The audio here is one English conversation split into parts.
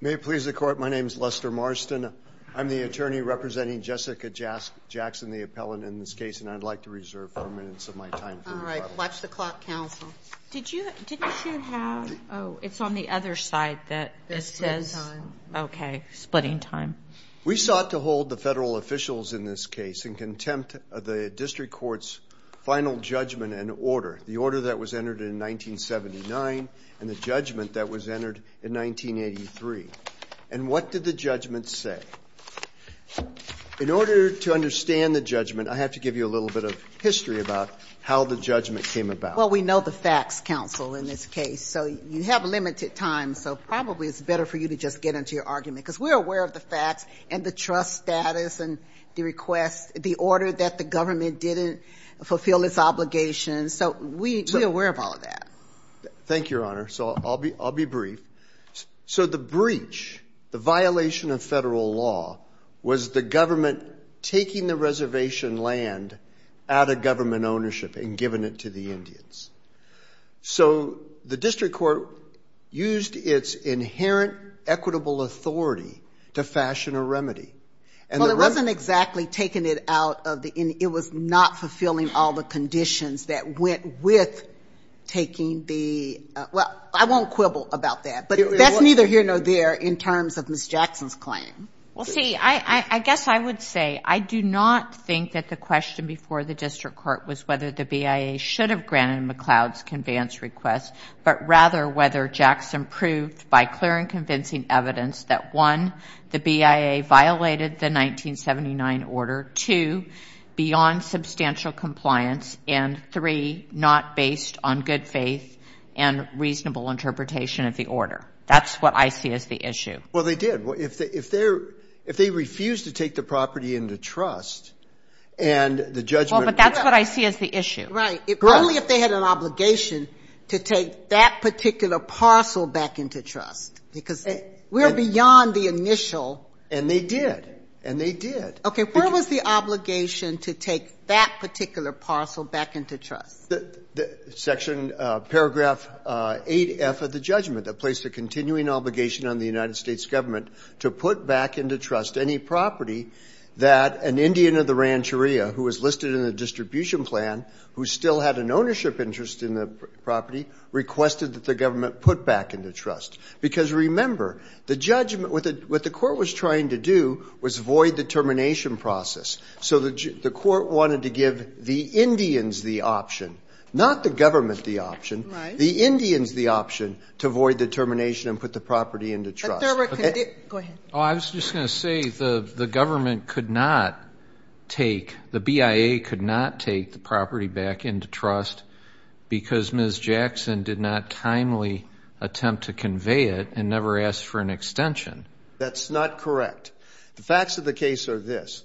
May it please the court, my name is Lester Marston. I'm the attorney representing Jessica Jackson, the appellant in this case, and I'd like to reserve four minutes of my time for rebuttal. All right, watch the clock, counsel. Did you have Oh, it's on the other side that it says Okay, splitting time. We sought to hold the federal officials in this case in contempt of the district court's final judgment and order. The order that was entered in 1979 and the order that was entered in 1983. And what did the judgment say? In order to understand the judgment, I have to give you a little bit of history about how the judgment came about. Well, we know the facts, counsel, in this case, so you have limited time, so probably it's better for you to just get into your argument, because we're aware of the facts and the trust status and the request, the order that the government didn't fulfill its obligations, so we're aware of all of that. Thank you, Your Honor. So I'll be brief. So the breach, the violation of federal law, was the government taking the reservation land out of government ownership and giving it to the Indians. So the district court used its inherent equitable authority to fashion a remedy. Well, it wasn't exactly taking it out of the Indians. It was not fulfilling all the conditions that went with taking the, well, I won't quibble about that, but that's neither here nor there in terms of Ms. Jackson's claim. Well, see, I guess I would say, I do not think that the question before the district court was whether the BIA should have granted McLeod's conveyance request, but rather whether Jackson proved by clear and convincing evidence that, one, the BIA violated the 1979 order, two, beyond substantial compliance, and three, not based on good faith and reasonable interpretation of the order. That's what I see as the issue. Well, they did. If they refused to take the property into trust and the judgment... Well, but that's what I see as the issue. Right. Only if they had an obligation to take that particular parcel back into trust, because we're beyond the initial... And they did. And they did. Okay, where was the obligation to take that particular parcel back into trust? Section paragraph 8F of the judgment that placed a continuing obligation on the United States government to put back into trust any property that an Indian of the Rancheria, who was listed in the distribution plan, who still had an ownership interest in the property, requested that the government put back into trust. Because, remember, the judgment, what the court was trying to do was void the termination process. So the court wanted to give the Indians the option, not the government the option, the Indians the option, to void the termination and put the property into trust. But there were... Go ahead. Oh, I was just going to say the government could not take, the BIA could not take the property back into trust because Ms. Jackson did not kindly attempt to convey it and never asked for an extension. That's not correct. The facts of the case are this.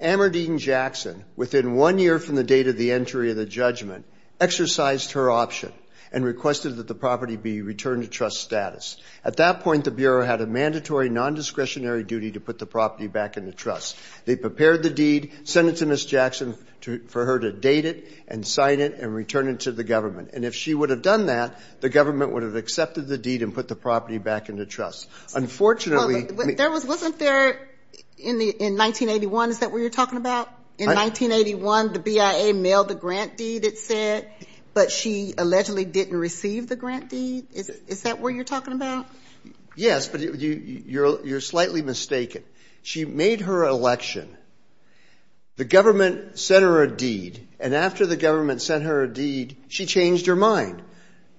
Amardeen Jackson, within one year from the date of the entry of the judgment, exercised her option and requested that the property be returned to trust status. At that point, the Bureau had a mandatory non-discretionary duty to put the property back into trust. They prepared the deed, sent it to Ms. Jackson for her to date it and sign it and return it to the trust. Unfortunately... Wasn't there, in 1981, is that where you're talking about? In 1981, the BIA mailed the grant deed, it said, but she allegedly didn't receive the grant deed? Is that where you're talking about? Yes, but you're slightly mistaken. She made her election. The government sent her a deed. And after the government sent her a deed, she changed her mind.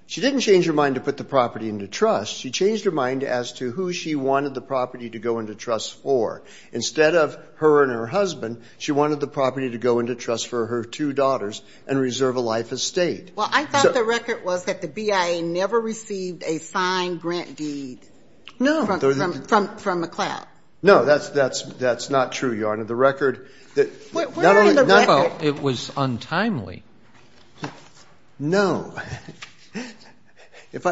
She didn't change her mind to put the property into trust. She changed her mind as to who she wanted the property to go into trust for. Instead of her and her husband, she wanted the property to go into trust for her two daughters and reserve a life estate. Well, I thought the record was that the BIA never received a signed grant deed... No. ...from MacLeod. No, that's not true, Your Honor. The record... It was untimely. No. If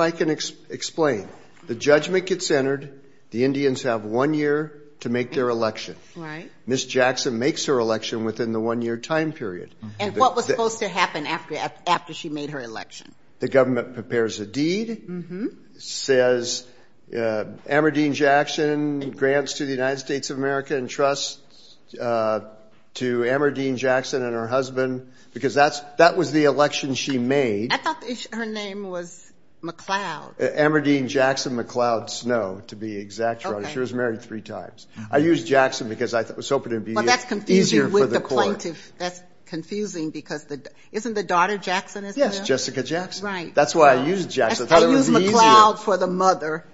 I can explain, the judgment gets entered. The Indians have one year to make their election. Right. Ms. Jackson makes her election within the one year time period. And what was supposed to happen after she made her election? The government prepares a deed, says, Amardine Jackson grants to the United States of America in trust to Amardine Jackson and her husband, because that was the election she made. I thought her name was MacLeod. Amardine Jackson MacLeod Snow, to be exact, Your Honor. She was married three times. I used Jackson because I was hoping it would be easier for the court. Well, that's confusing with the plaintiff. That's confusing because isn't the daughter Jackson as well? Yes, Jessica Jackson. That's why I used Jackson. I thought it would be easier. I used MacLeod for the mother,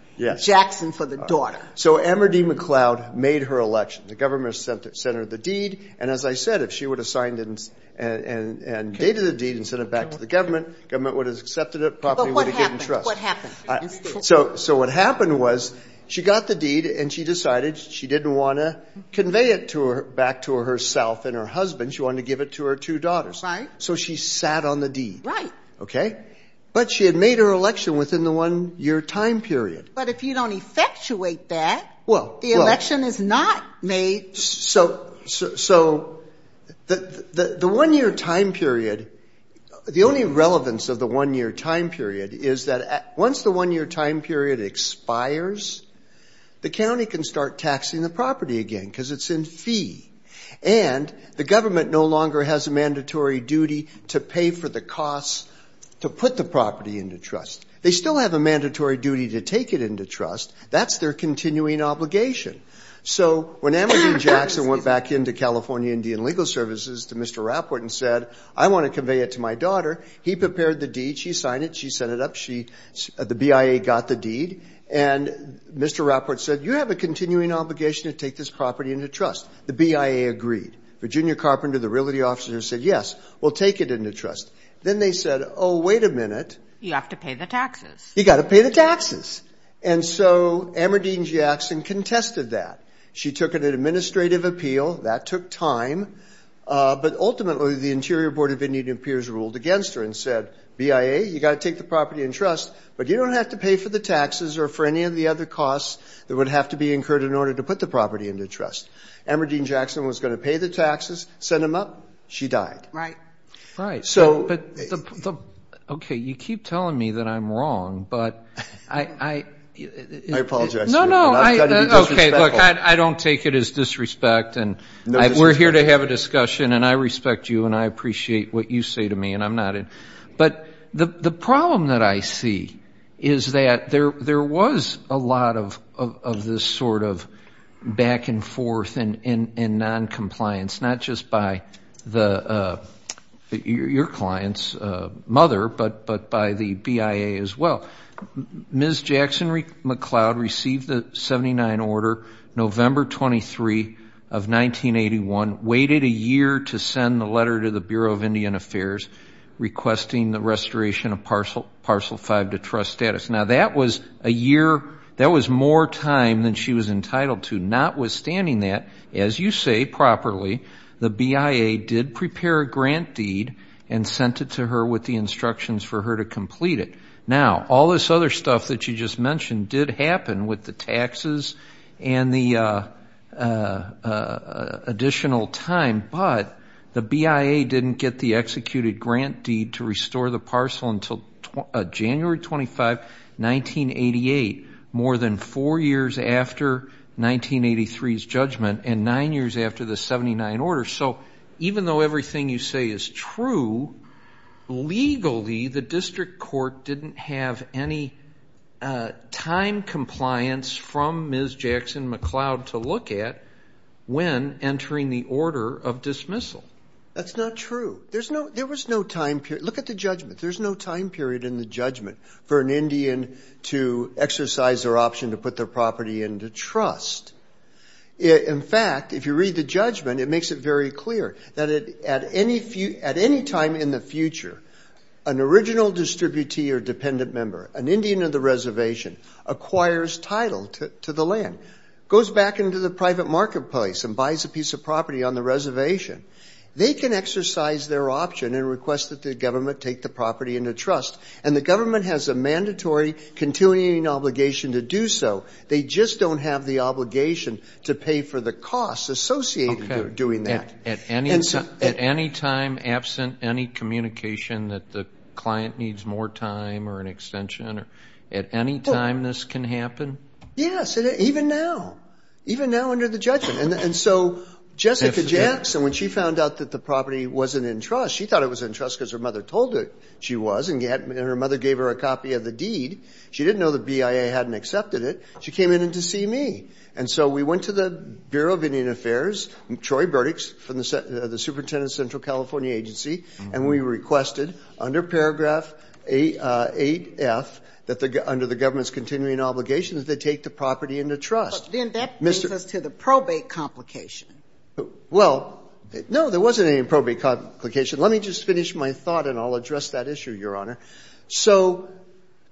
Jackson for the daughter. So Amardine MacLeod made her election. The government sent her the deed. And as I said, if she would have signed it and dated the deed and sent it back to the government, the government would have accepted it properly and would have given trust. So what happened was she got the deed and she decided she didn't want to convey it back to her back to herself and her husband. She wanted to give it to her two daughters. So she sat on the deed. Right. Okay. But she had made her election within the one year time period. But if you don't effectuate that, well, the election is not made. So so that the one year time period, the only relevance of the one year time period is that once the one year time period expires, the county can start taxing the property again because it's in fees. And the government no longer has a mandatory duty to pay for the costs to put the property into trust. They still have a mandatory duty to take it into trust. That's their continuing obligation. So when Amardine Jackson went back into California Indian Legal Services to Mr. Rapport and said, I want to convey it to my daughter, he prepared the deed. She signed it. She sent it up. She the BIA got the deed. And Mr. Rapport said, you have a continuing obligation to take this property into trust. The BIA agreed. Virginia Carpenter, the realty officer, said, yes, we'll take it into trust. Then they said, oh, wait a minute. You have to pay the taxes. You got to pay the taxes. And so Amardine Jackson contested that. She took an administrative appeal. That took time. But ultimately, the Interior Board of Indian Appears ruled against her and said, BIA, you got to take the property in trust. But you don't have to pay for the taxes or for any of the other costs that would have to be incurred in order to put the property into trust. Amardine Jackson was going to pay the taxes, send them up. She died. Right. Right. Okay. You keep telling me that I'm wrong, but I apologize. No, no. Okay. Look, I don't take it as disrespect. And we're here to have a discussion and I respect you and I appreciate what you say to me and I'm not. But the problem that I see is that there was a lot of this sort of back and forth and noncompliance, not just by your client's mother, but by the BIA as well. Ms. Jackson McCloud received the 79 order November 23 of 1981, waited a year to send the letter to the Bureau of Indian Affairs requesting the restoration of Parcel 5 to trust status. Now, that was a year, that was more time than she was entitled to. And notwithstanding that, as you say properly, the BIA did prepare a grant deed and sent it to her with the instructions for her to complete it. Now, all this other stuff that you just mentioned did happen with the taxes and the additional time, but the BIA didn't get the executed grant deed to restore the parcel until January 25, 1988, more than four years after 1983's judgment and nine years after the 79 order. So even though everything you say is true, legally the district court didn't have any time compliance from Ms. Jackson McCloud to look at when entering the order of dismissal. That's not true. There was no time period. Look at the judgment. There's no time period in the judgment for an Indian to exercise their option to put their property into trust. In fact, if you read the judgment, it makes it very clear that at any time in the future, an original distributee or dependent member, an Indian of the reservation, acquires title to the land, goes back into the private marketplace and buys a piece of property on the reservation. They can exercise their option and request that the government take the property into trust, and the government has a mandatory continuing obligation to do so. They just don't have the obligation to pay for the costs associated with doing that. At any time, absent any communication that the client needs more time or an extension, at any time this can happen? Yes, even now. Even now under the judgment. And so Jessica Jackson, when she found out that the property wasn't in trust, she thought it was in trust because her mother told her she was, and her mother gave her a copy of the deed. She didn't know the BIA hadn't accepted it. She came in to see me. And so we went to the Bureau of Indian Affairs, Troy Burdick, the superintendent of the Central California Agency, and we requested under paragraph 8F, under the government's continuing obligation, that they take the property into trust. Then that brings us to the probate complication. Well, no, there wasn't any probate complication. Let me just finish my thought and I'll address that issue, Your Honor. So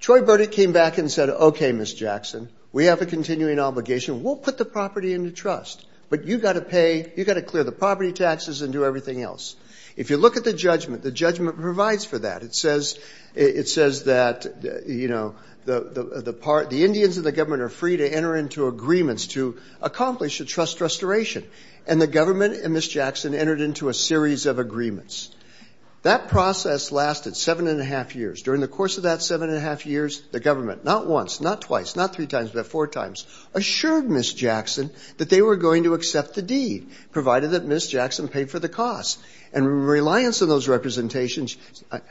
Troy Burdick came back and said, okay, Ms. Jackson, we have a continuing obligation. We'll put the property into trust, but you've got to pay, you've got to clear the property taxes and do everything else. If you look at the judgment, the judgment provides for that. It says that, you know, the Indians in the government are free to enter into agreements to accomplish a trust restoration. And the government and Ms. Jackson entered into a series of agreements. That process lasted seven and a half years. During the course of that seven and a half years, the government, not once, not twice, not three times, but four times, assured Ms. Jackson that they were going to accept the deed, provided that Ms. Jackson paid for the cost. And reliance on those representations,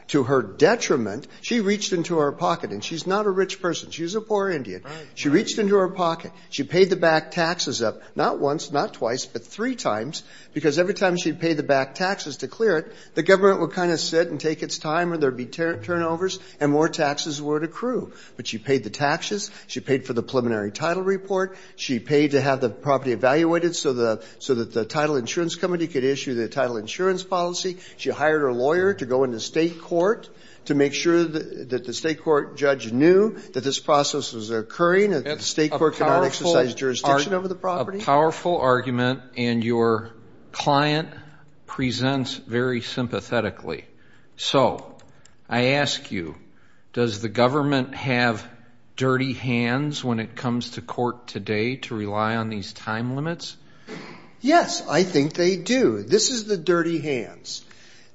to her detriment, she reached into her pocket. And she's not a rich person. She's a poor Indian. She reached into her pocket. She paid the back taxes up, not once, not twice, but three times, because every time she paid the back taxes to clear it, the government would kind of sit and take its time or there would be turnovers and more taxes would accrue. But she paid the taxes. She paid for the preliminary title report. She paid to have the property evaluated so that the title insurance company could issue the title insurance policy. She hired her lawyer to go into state court to make sure that the state court judge knew that this process was occurring, that the state court could not exercise jurisdiction over the property. A powerful argument, and your client presents very sympathetically. So I ask you, does the government have dirty hands when it comes to court today to rely on these time limits? Yes, I think they do. This is the dirty hands.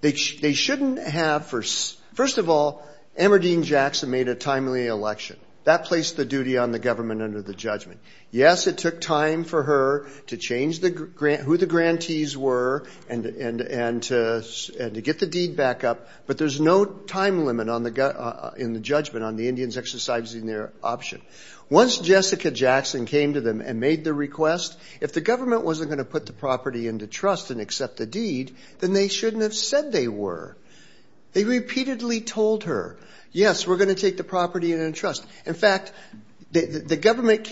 They shouldn't have, first of all, Amardeen Jackson made a timely election. That placed the duty on the government under the judgment. Yes, it took time for her to change who the grantees were and to get the deed back up, but there's no time limit in the judgment on the Indians exercising their option. Once Jessica Jackson came to them and made the request, if the government wasn't going to put the property into trust and accept the deed, then they shouldn't have said they were. They repeatedly told her, yes, we're going to take the property into trust. In fact, the government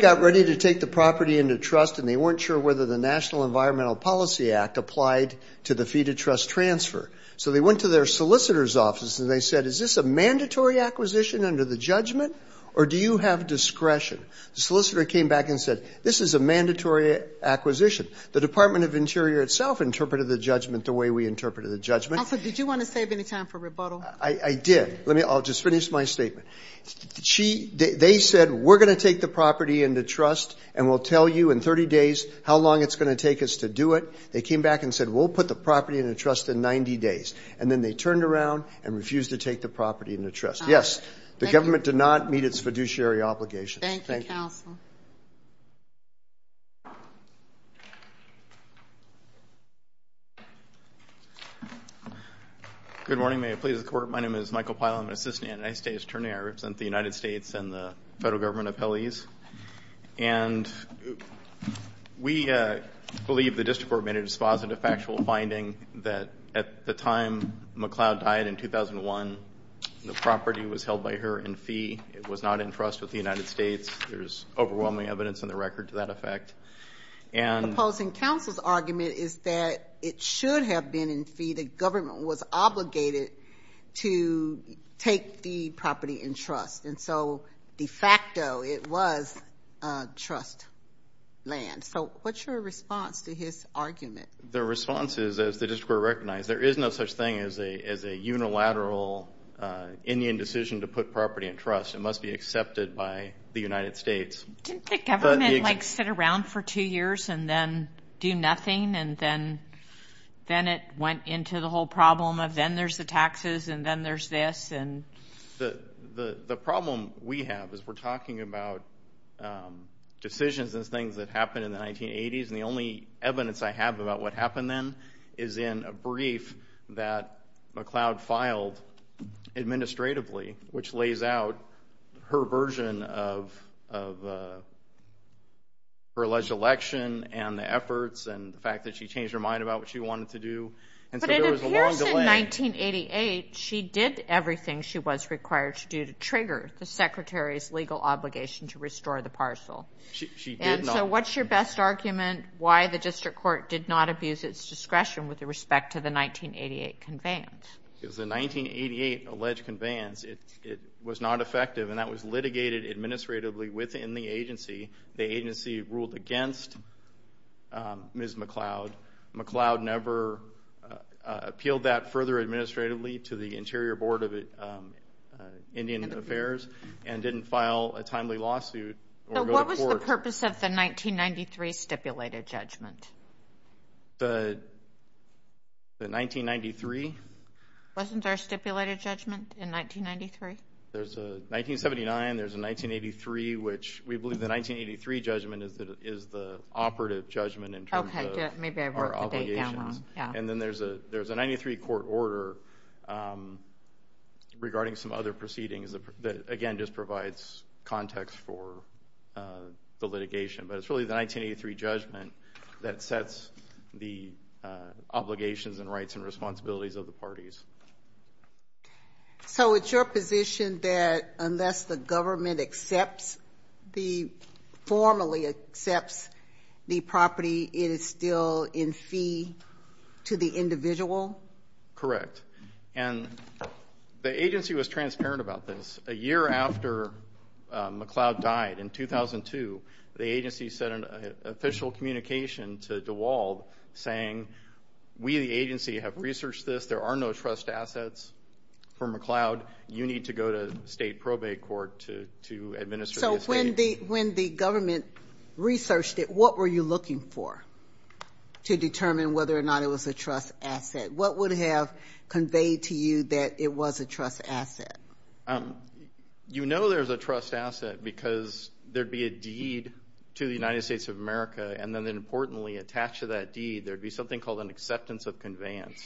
got ready to take the property into trust, and they weren't sure whether the National Environmental Policy Act applied to the fee-to-trust transfer. So they went to their solicitor's office, and they said, is this a mandatory acquisition under the judgment, or do you have discretion? The solicitor came back and said, this is a mandatory acquisition. The Department of Interior itself interpreted the judgment the way we interpreted the judgment. Also, did you want to save any time for rebuttal? I did. I'll just finish my statement. They said, we're going to take the property into trust, and we'll tell you in 30 days how long it's going to take us to do it. They came back and said, we'll put the property into trust in 90 days, and then they turned around and refused to take the property into trust. Yes, the government did not meet its fiduciary obligations. Thank you, counsel. Good morning. May it please the Court, my name is Michael Pyle. I'm an assistant United States attorney. I represent the United States and the federal government appellees. And we believe the district court made a dispositive factual finding that at the time McLeod died in 2001, the property was held by her in fee. It was not in trust with the United States. There's overwhelming evidence in the record to that effect. The opposing counsel's argument is that it should have been in fee. The government was obligated to take the property in trust. And so de facto it was trust land. So what's your response to his argument? The response is, as the district court recognized, there is no such thing as a unilateral Indian decision to put property in trust. It must be accepted by the United States. Didn't the government, like, sit around for two years and then do nothing, and then it went into the whole problem of then there's the taxes and then there's this? The problem we have is we're talking about decisions and things that happened in the 1980s, and the only evidence I have about what happened then is in a brief that McLeod filed administratively, which lays out her version of her alleged election and the efforts and the fact that she changed her mind about what she wanted to do. And so there was a long delay. But it appears in 1988 she did everything she was required to do to trigger the secretary's legal obligation to restore the parcel. She did not. And so what's your best argument why the district court did not abuse its discretion with respect to the 1988 conveyance? Because the 1988 alleged conveyance, it was not effective, and that was litigated administratively within the agency. The agency ruled against Ms. McLeod. McLeod never appealed that further administratively to the Interior Board of Indian Affairs and didn't file a timely lawsuit or go to court. So what was the purpose of the 1993 stipulated judgment? The 1993? Wasn't there a stipulated judgment in 1993? There's a 1979. There's a 1983, which we believe the 1983 judgment is the operative judgment in terms of our obligations. And then there's a 93 court order regarding some other proceedings that, again, just provides context for the litigation. But it's really the 1983 judgment that sets the obligations and rights and responsibilities of the parties. So it's your position that unless the government formally accepts the property, it is still in fee to the individual? Correct. And the agency was transparent about this. A year after McLeod died in 2002, the agency sent an official communication to DeWald saying, we, the agency, have researched this. There are no trust assets for McLeod. You need to go to state probate court to administer this. So when the government researched it, what were you looking for to determine whether or not it was a trust asset? What would have conveyed to you that it was a trust asset? You know there's a trust asset because there would be a deed to the United States of America, and then importantly attached to that deed there would be something called an acceptance of conveyance,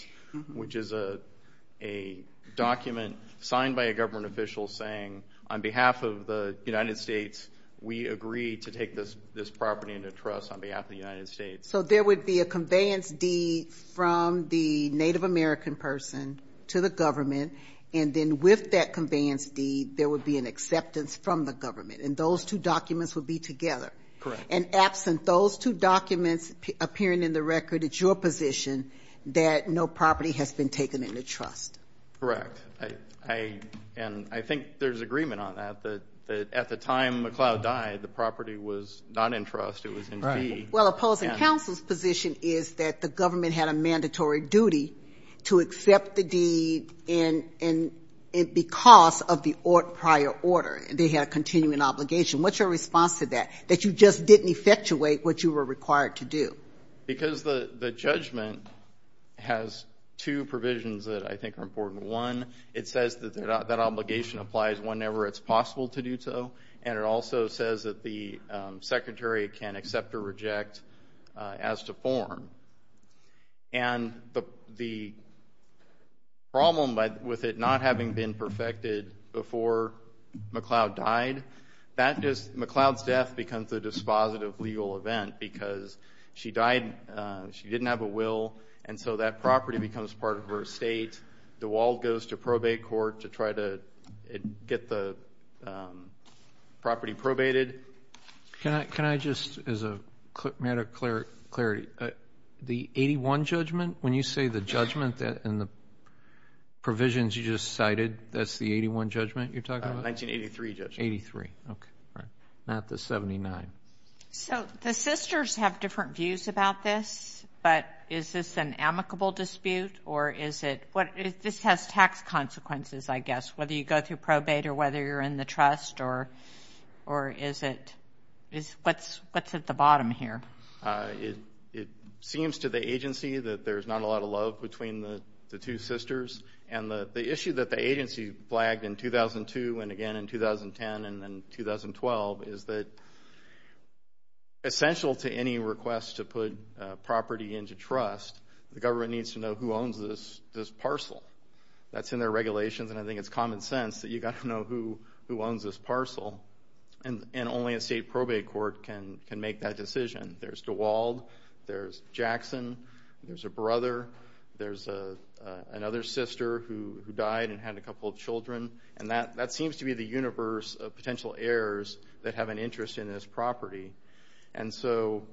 which is a document signed by a government official saying, on behalf of the United States, we agree to take this property into trust on behalf of the United States. So there would be a conveyance deed from the Native American person to the government, and then with that conveyance deed there would be an acceptance from the government, and those two documents would be together. Correct. And absent those two documents appearing in the record, it's your position that no property has been taken into trust. Correct. And I think there's agreement on that, that at the time McLeod died, the property was not in trust. It was in fee. Well, opposing counsel's position is that the government had a mandatory duty to accept the deed because of the prior order, and they had a continuing obligation. What's your response to that, that you just didn't effectuate what you were required to do? Because the judgment has two provisions that I think are important. One, it says that that obligation applies whenever it's possible to do so, and it also says that the secretary can accept or reject as to form. And the problem with it not having been perfected before McLeod died, McLeod's death becomes a dispositive legal event because she died, she didn't have a will, and so that property becomes part of her estate. The wall goes to probate court to try to get the property probated. Can I just, as a matter of clarity, the 81 judgment, when you say the judgment and the provisions you just cited, that's the 81 judgment you're talking about? 1983 judgment. 83, okay, not the 79. So the sisters have different views about this, but is this an amicable dispute or is it, this has tax consequences, I guess, whether you go through probate or whether you're in the trust or is it, what's at the bottom here? It seems to the agency that there's not a lot of love between the two sisters, and the issue that the agency flagged in 2002 and again in 2010 and then 2012 is that essential to any request to put property into trust, the government needs to know who owns this parcel. That's in their regulations, and I think it's common sense that you've got to know who owns this parcel, and only a state probate court can make that decision. There's DeWald, there's Jackson, there's a brother, there's another sister who died and had a couple of children, and that seems to be the universe of potential heirs that have an interest in this property. And so,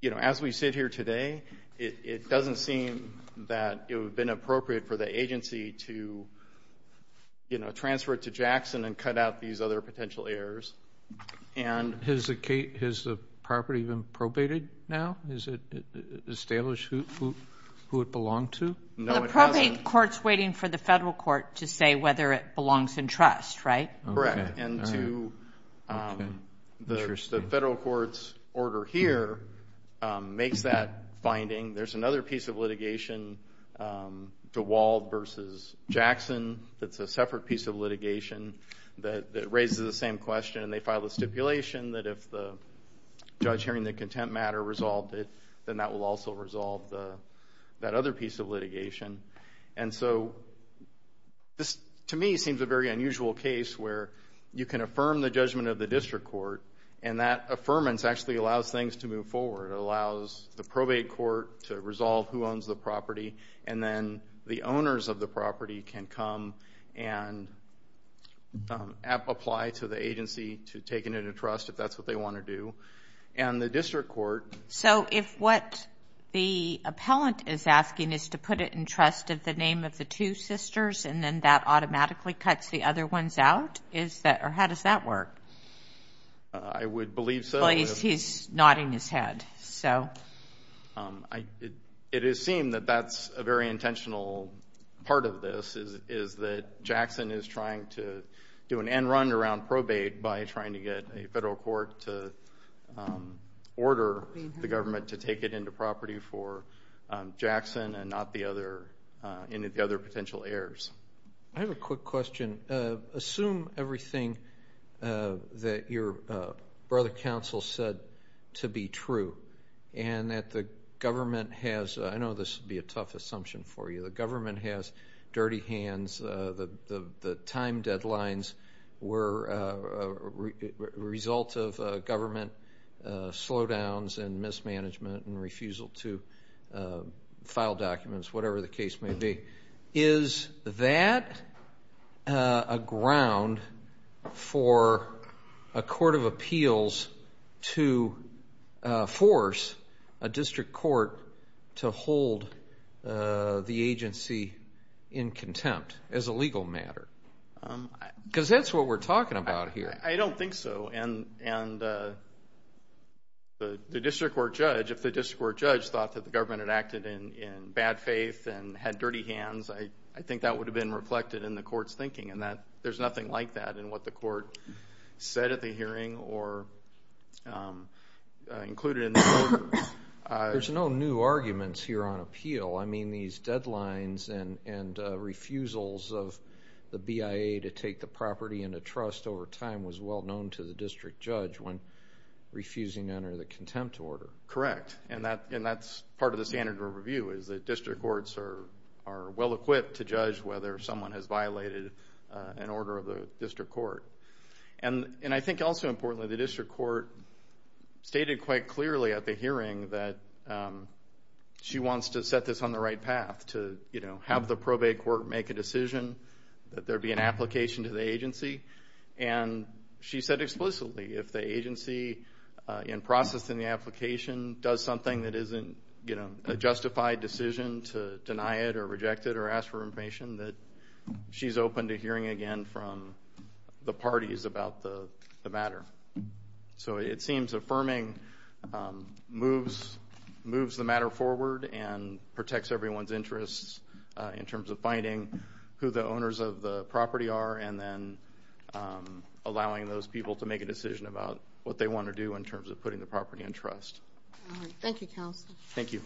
you know, as we sit here today, it doesn't seem that it would have been appropriate for the agency to, you know, transfer it to Jackson and cut out these other potential heirs. And has the property been probated now? Is it established who it belonged to? No, it hasn't. The probate court's waiting for the federal court to say whether it belongs in trust, right? Correct. And to the federal court's order here makes that finding. There's another piece of litigation, DeWald versus Jackson, that's a separate piece of litigation that raises the same question, and they file a stipulation that if the judge hearing the contempt matter resolved it, then that will also resolve that other piece of litigation. And so this, to me, seems a very unusual case where you can affirm the judgment of the district court, and that affirmance actually allows things to move forward. It allows the probate court to resolve who owns the property, and then the owners of the property can come and apply to the agency to take it into trust, if that's what they want to do. And the district court. So if what the appellant is asking is to put it in trust of the name of the two sisters and then that automatically cuts the other ones out, or how does that work? I would believe so. He's nodding his head. It is seen that that's a very intentional part of this, is that Jackson is trying to do an end run around probate by trying to get a federal court to order the government to take it into property for Jackson and not the other potential heirs. I have a quick question. Assume everything that your brother counsel said to be true, and that the government has, I know this would be a tough assumption for you, the government has dirty hands, the time deadlines were a result of government slowdowns and mismanagement and refusal to file documents, whatever the case may be. Is that a ground for a court of appeals to force a district court to hold the agency in contempt as a legal matter? Because that's what we're talking about here. I don't think so. And the district court judge, if the district court judge thought that the government had acted in bad faith and had dirty hands, I think that would have been reflected in the court's thinking, and there's nothing like that in what the court said at the hearing or included in the order. There's no new arguments here on appeal. I mean these deadlines and refusals of the BIA to take the property into trust over time was well known to the district judge when refusing to enter the contempt order. Correct. And that's part of the standard of review, is that district courts are well equipped to judge whether someone has violated an order of the district court. And I think also importantly, the district court stated quite clearly at the hearing that she wants to set this on the right path, to have the probate court make a decision, that there be an application to the agency. And she said explicitly if the agency, in processing the application, does something that isn't a justified decision to deny it or reject it or ask for information, that she's open to hearing again from the parties about the matter. So it seems affirming moves the matter forward and protects everyone's interests in terms of finding who the owners of the property are and then allowing those people to make a decision about what they want to do in terms of putting the property in trust. Thank you, counsel. Thank you.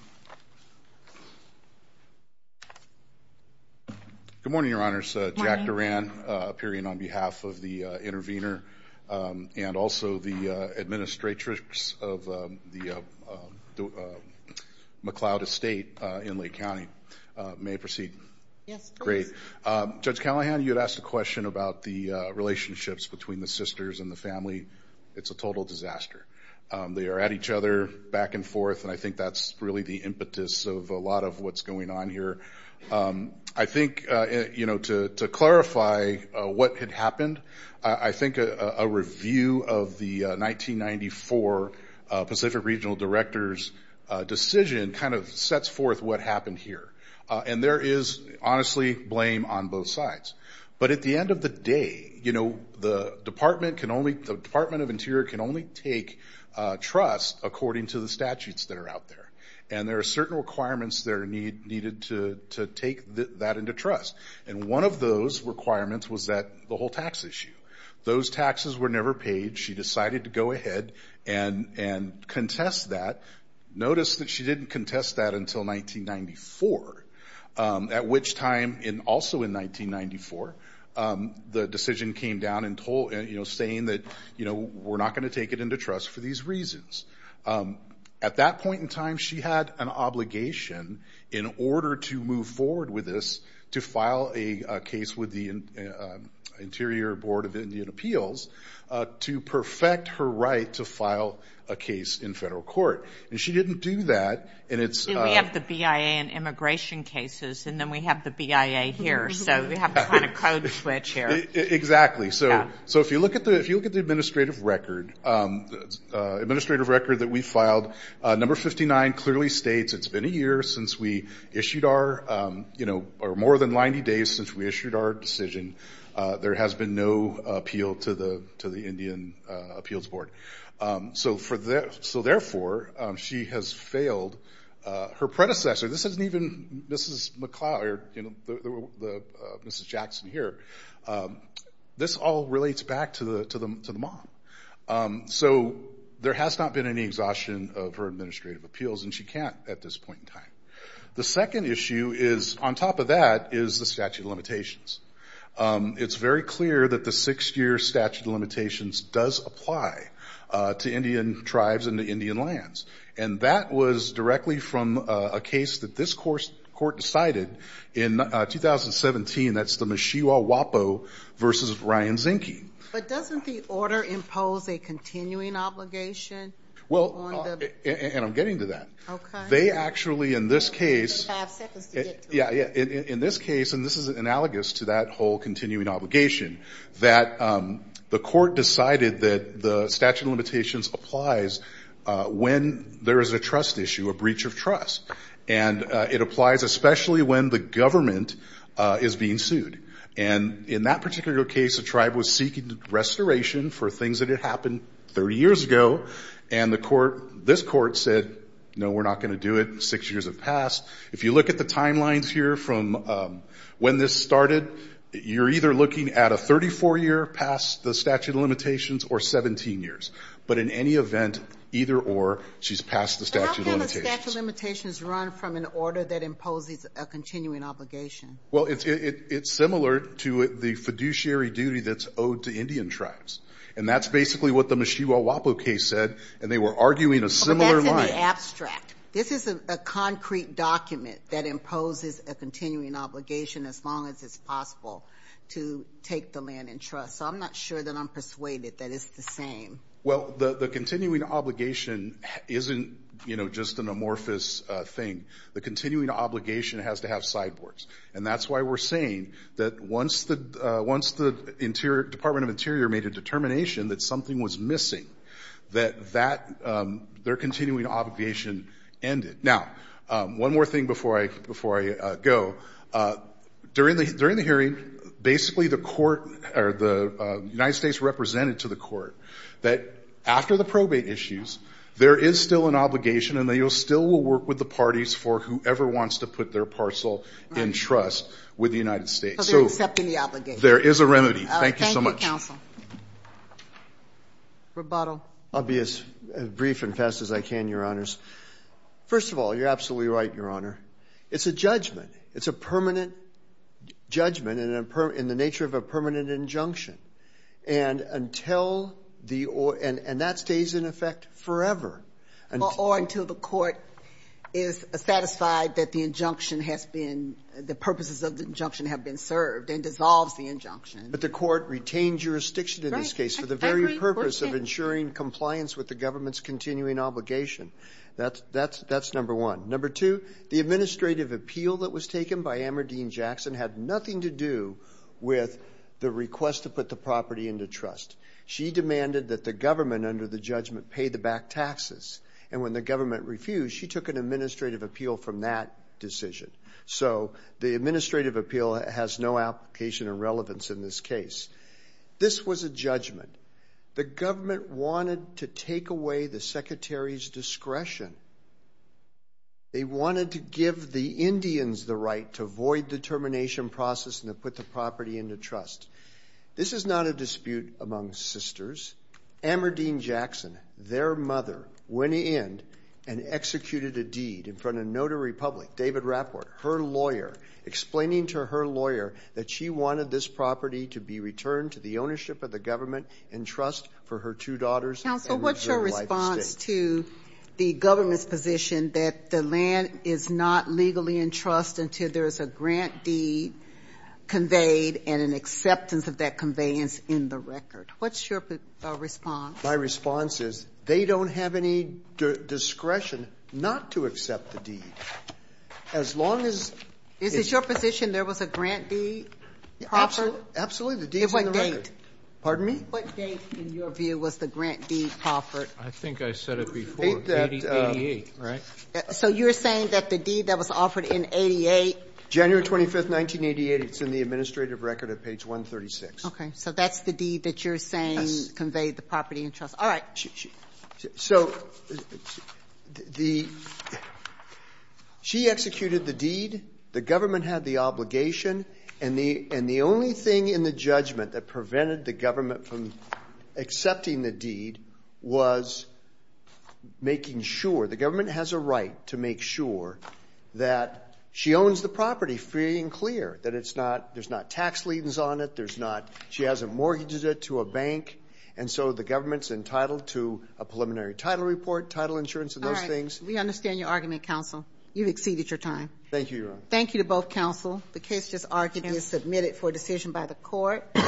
Good morning, Your Honors. Jack Duran, appearing on behalf of the intervener and also the administratrix of the McLeod Estate in Lake County. May I proceed? Yes, please. Great. Judge Callahan, you had asked a question about the relationships between the sisters and the family. It's a total disaster. They are at each other back and forth, and I think that's really the impetus of a lot of what's going on here. I think to clarify what had happened, I think a review of the 1994 Pacific Regional Director's decision kind of sets forth what happened here, and there is honestly blame on both sides. But at the end of the day, the Department of Interior can only take trust according to the statutes that are out there, and there are certain requirements that are needed to take that into trust. And one of those requirements was the whole tax issue. Those taxes were never paid. She decided to go ahead and contest that. Notice that she didn't contest that until 1994, at which time, also in 1994, the decision came down saying that we're not going to take it into trust for these reasons. At that point in time, she had an obligation, in order to move forward with this, to file a case with the Interior Board of Indian Appeals to perfect her right to file a case in federal court. And she didn't do that. We have the BIA in immigration cases, and then we have the BIA here, so we have a kind of code switch here. Exactly. So if you look at the administrative record that we filed, number 59 clearly states it's been a year since we issued our, or more than 90 days since we issued our decision. There has been no appeal to the Indian Appeals Board. So therefore, she has failed her predecessor. This isn't even Mrs. Jackson here. This all relates back to the mom. So there has not been any exhaustion of her administrative appeals, and she can't at this point in time. The second issue is, on top of that, is the statute of limitations. It's very clear that the six-year statute of limitations does apply to Indian tribes and to Indian lands, and that was directly from a case that this court decided in 2017. That's the Meshua Wapo v. Ryan Zinke. But doesn't the order impose a continuing obligation? Well, and I'm getting to that. Okay. They actually, in this case. You have five seconds to get to it. Yeah, in this case, and this is analogous to that whole continuing obligation, that the court decided that the statute of limitations applies when there is a trust issue, a breach of trust. And it applies especially when the government is being sued. And in that particular case, the tribe was seeking restoration for things that had happened 30 years ago, and this court said, no, we're not going to do it. Six years have passed. If you look at the timelines here from when this started, you're either looking at a 34-year past the statute of limitations or 17 years. But in any event, either or, she's past the statute of limitations. But how can the statute of limitations run from an order that imposes a continuing obligation? Well, it's similar to the fiduciary duty that's owed to Indian tribes. And that's basically what the Meshua Wapo case said, and they were arguing a similar line. But that's in the abstract. This is a concrete document that imposes a continuing obligation as long as it's possible to take the land in trust. So I'm not sure that I'm persuaded that it's the same. Well, the continuing obligation isn't, you know, just an amorphous thing. The continuing obligation has to have sideboards. And that's why we're saying that once the Department of Interior made a determination that something was missing, that that, their continuing obligation ended. Now, one more thing before I go. During the hearing, basically the court, or the United States represented to the court, that after the probate issues, there is still an obligation, and they still will work with the parties for whoever wants to put their parcel in trust with the United States. So they're accepting the obligation. There is a remedy. Thank you so much. Counsel. Rebuttal. I'll be as brief and fast as I can, Your Honors. First of all, you're absolutely right, Your Honor. It's a judgment. It's a permanent judgment in the nature of a permanent injunction. And that stays in effect forever. Or until the court is satisfied that the injunction has been, the purposes of the injunction have been served and dissolves the injunction. But the court retained jurisdiction in this case for the very purpose of ensuring compliance with the government's continuing obligation. That's number one. Number two, the administrative appeal that was taken by Amber Dean Jackson had nothing to do with the request to put the property into trust. She demanded that the government, under the judgment, pay the back taxes. And when the government refused, she took an administrative appeal from that decision. So the administrative appeal has no application or relevance in this case. This was a judgment. The government wanted to take away the secretary's discretion. They wanted to give the Indians the right to void the termination process and to put the property into trust. This is not a dispute among sisters. Amber Dean Jackson, their mother, went in and executed a deed in front of a notary public, David Rapport, her lawyer, explaining to her lawyer that she wanted this property to be returned to the ownership of the government in trust for her two daughters and her wife. Counsel, what's your response to the government's position that the land is not legally in trust until there is a grant deed conveyed and an acceptance of that conveyance in the record? What's your response? My response is they don't have any discretion not to accept the deed. As long as it's not. Is it your position there was a grant deed proffered? Absolutely. The deed's in the record. What date? Pardon me? What date, in your view, was the grant deed proffered? I think I said it before. 88, right? So you're saying that the deed that was offered in 88? January 25th, 1988. It's in the administrative record at page 136. Okay. So that's the deed that you're saying conveyed the property in trust. Yes. All right. So she executed the deed. The government had the obligation. And the only thing in the judgment that prevented the government from accepting the deed was making sure, the government has a right to make sure that she owns the property free and clear, that it's not, there's not tax liens on it, there's not, she hasn't mortgaged it to a bank, and so the government's entitled to a preliminary title report, title insurance, and those things. All right. We understand your argument, counsel. You've exceeded your time. Thank you, Your Honor. Thank you to both counsel. The case just argued and submitted for decision by the court.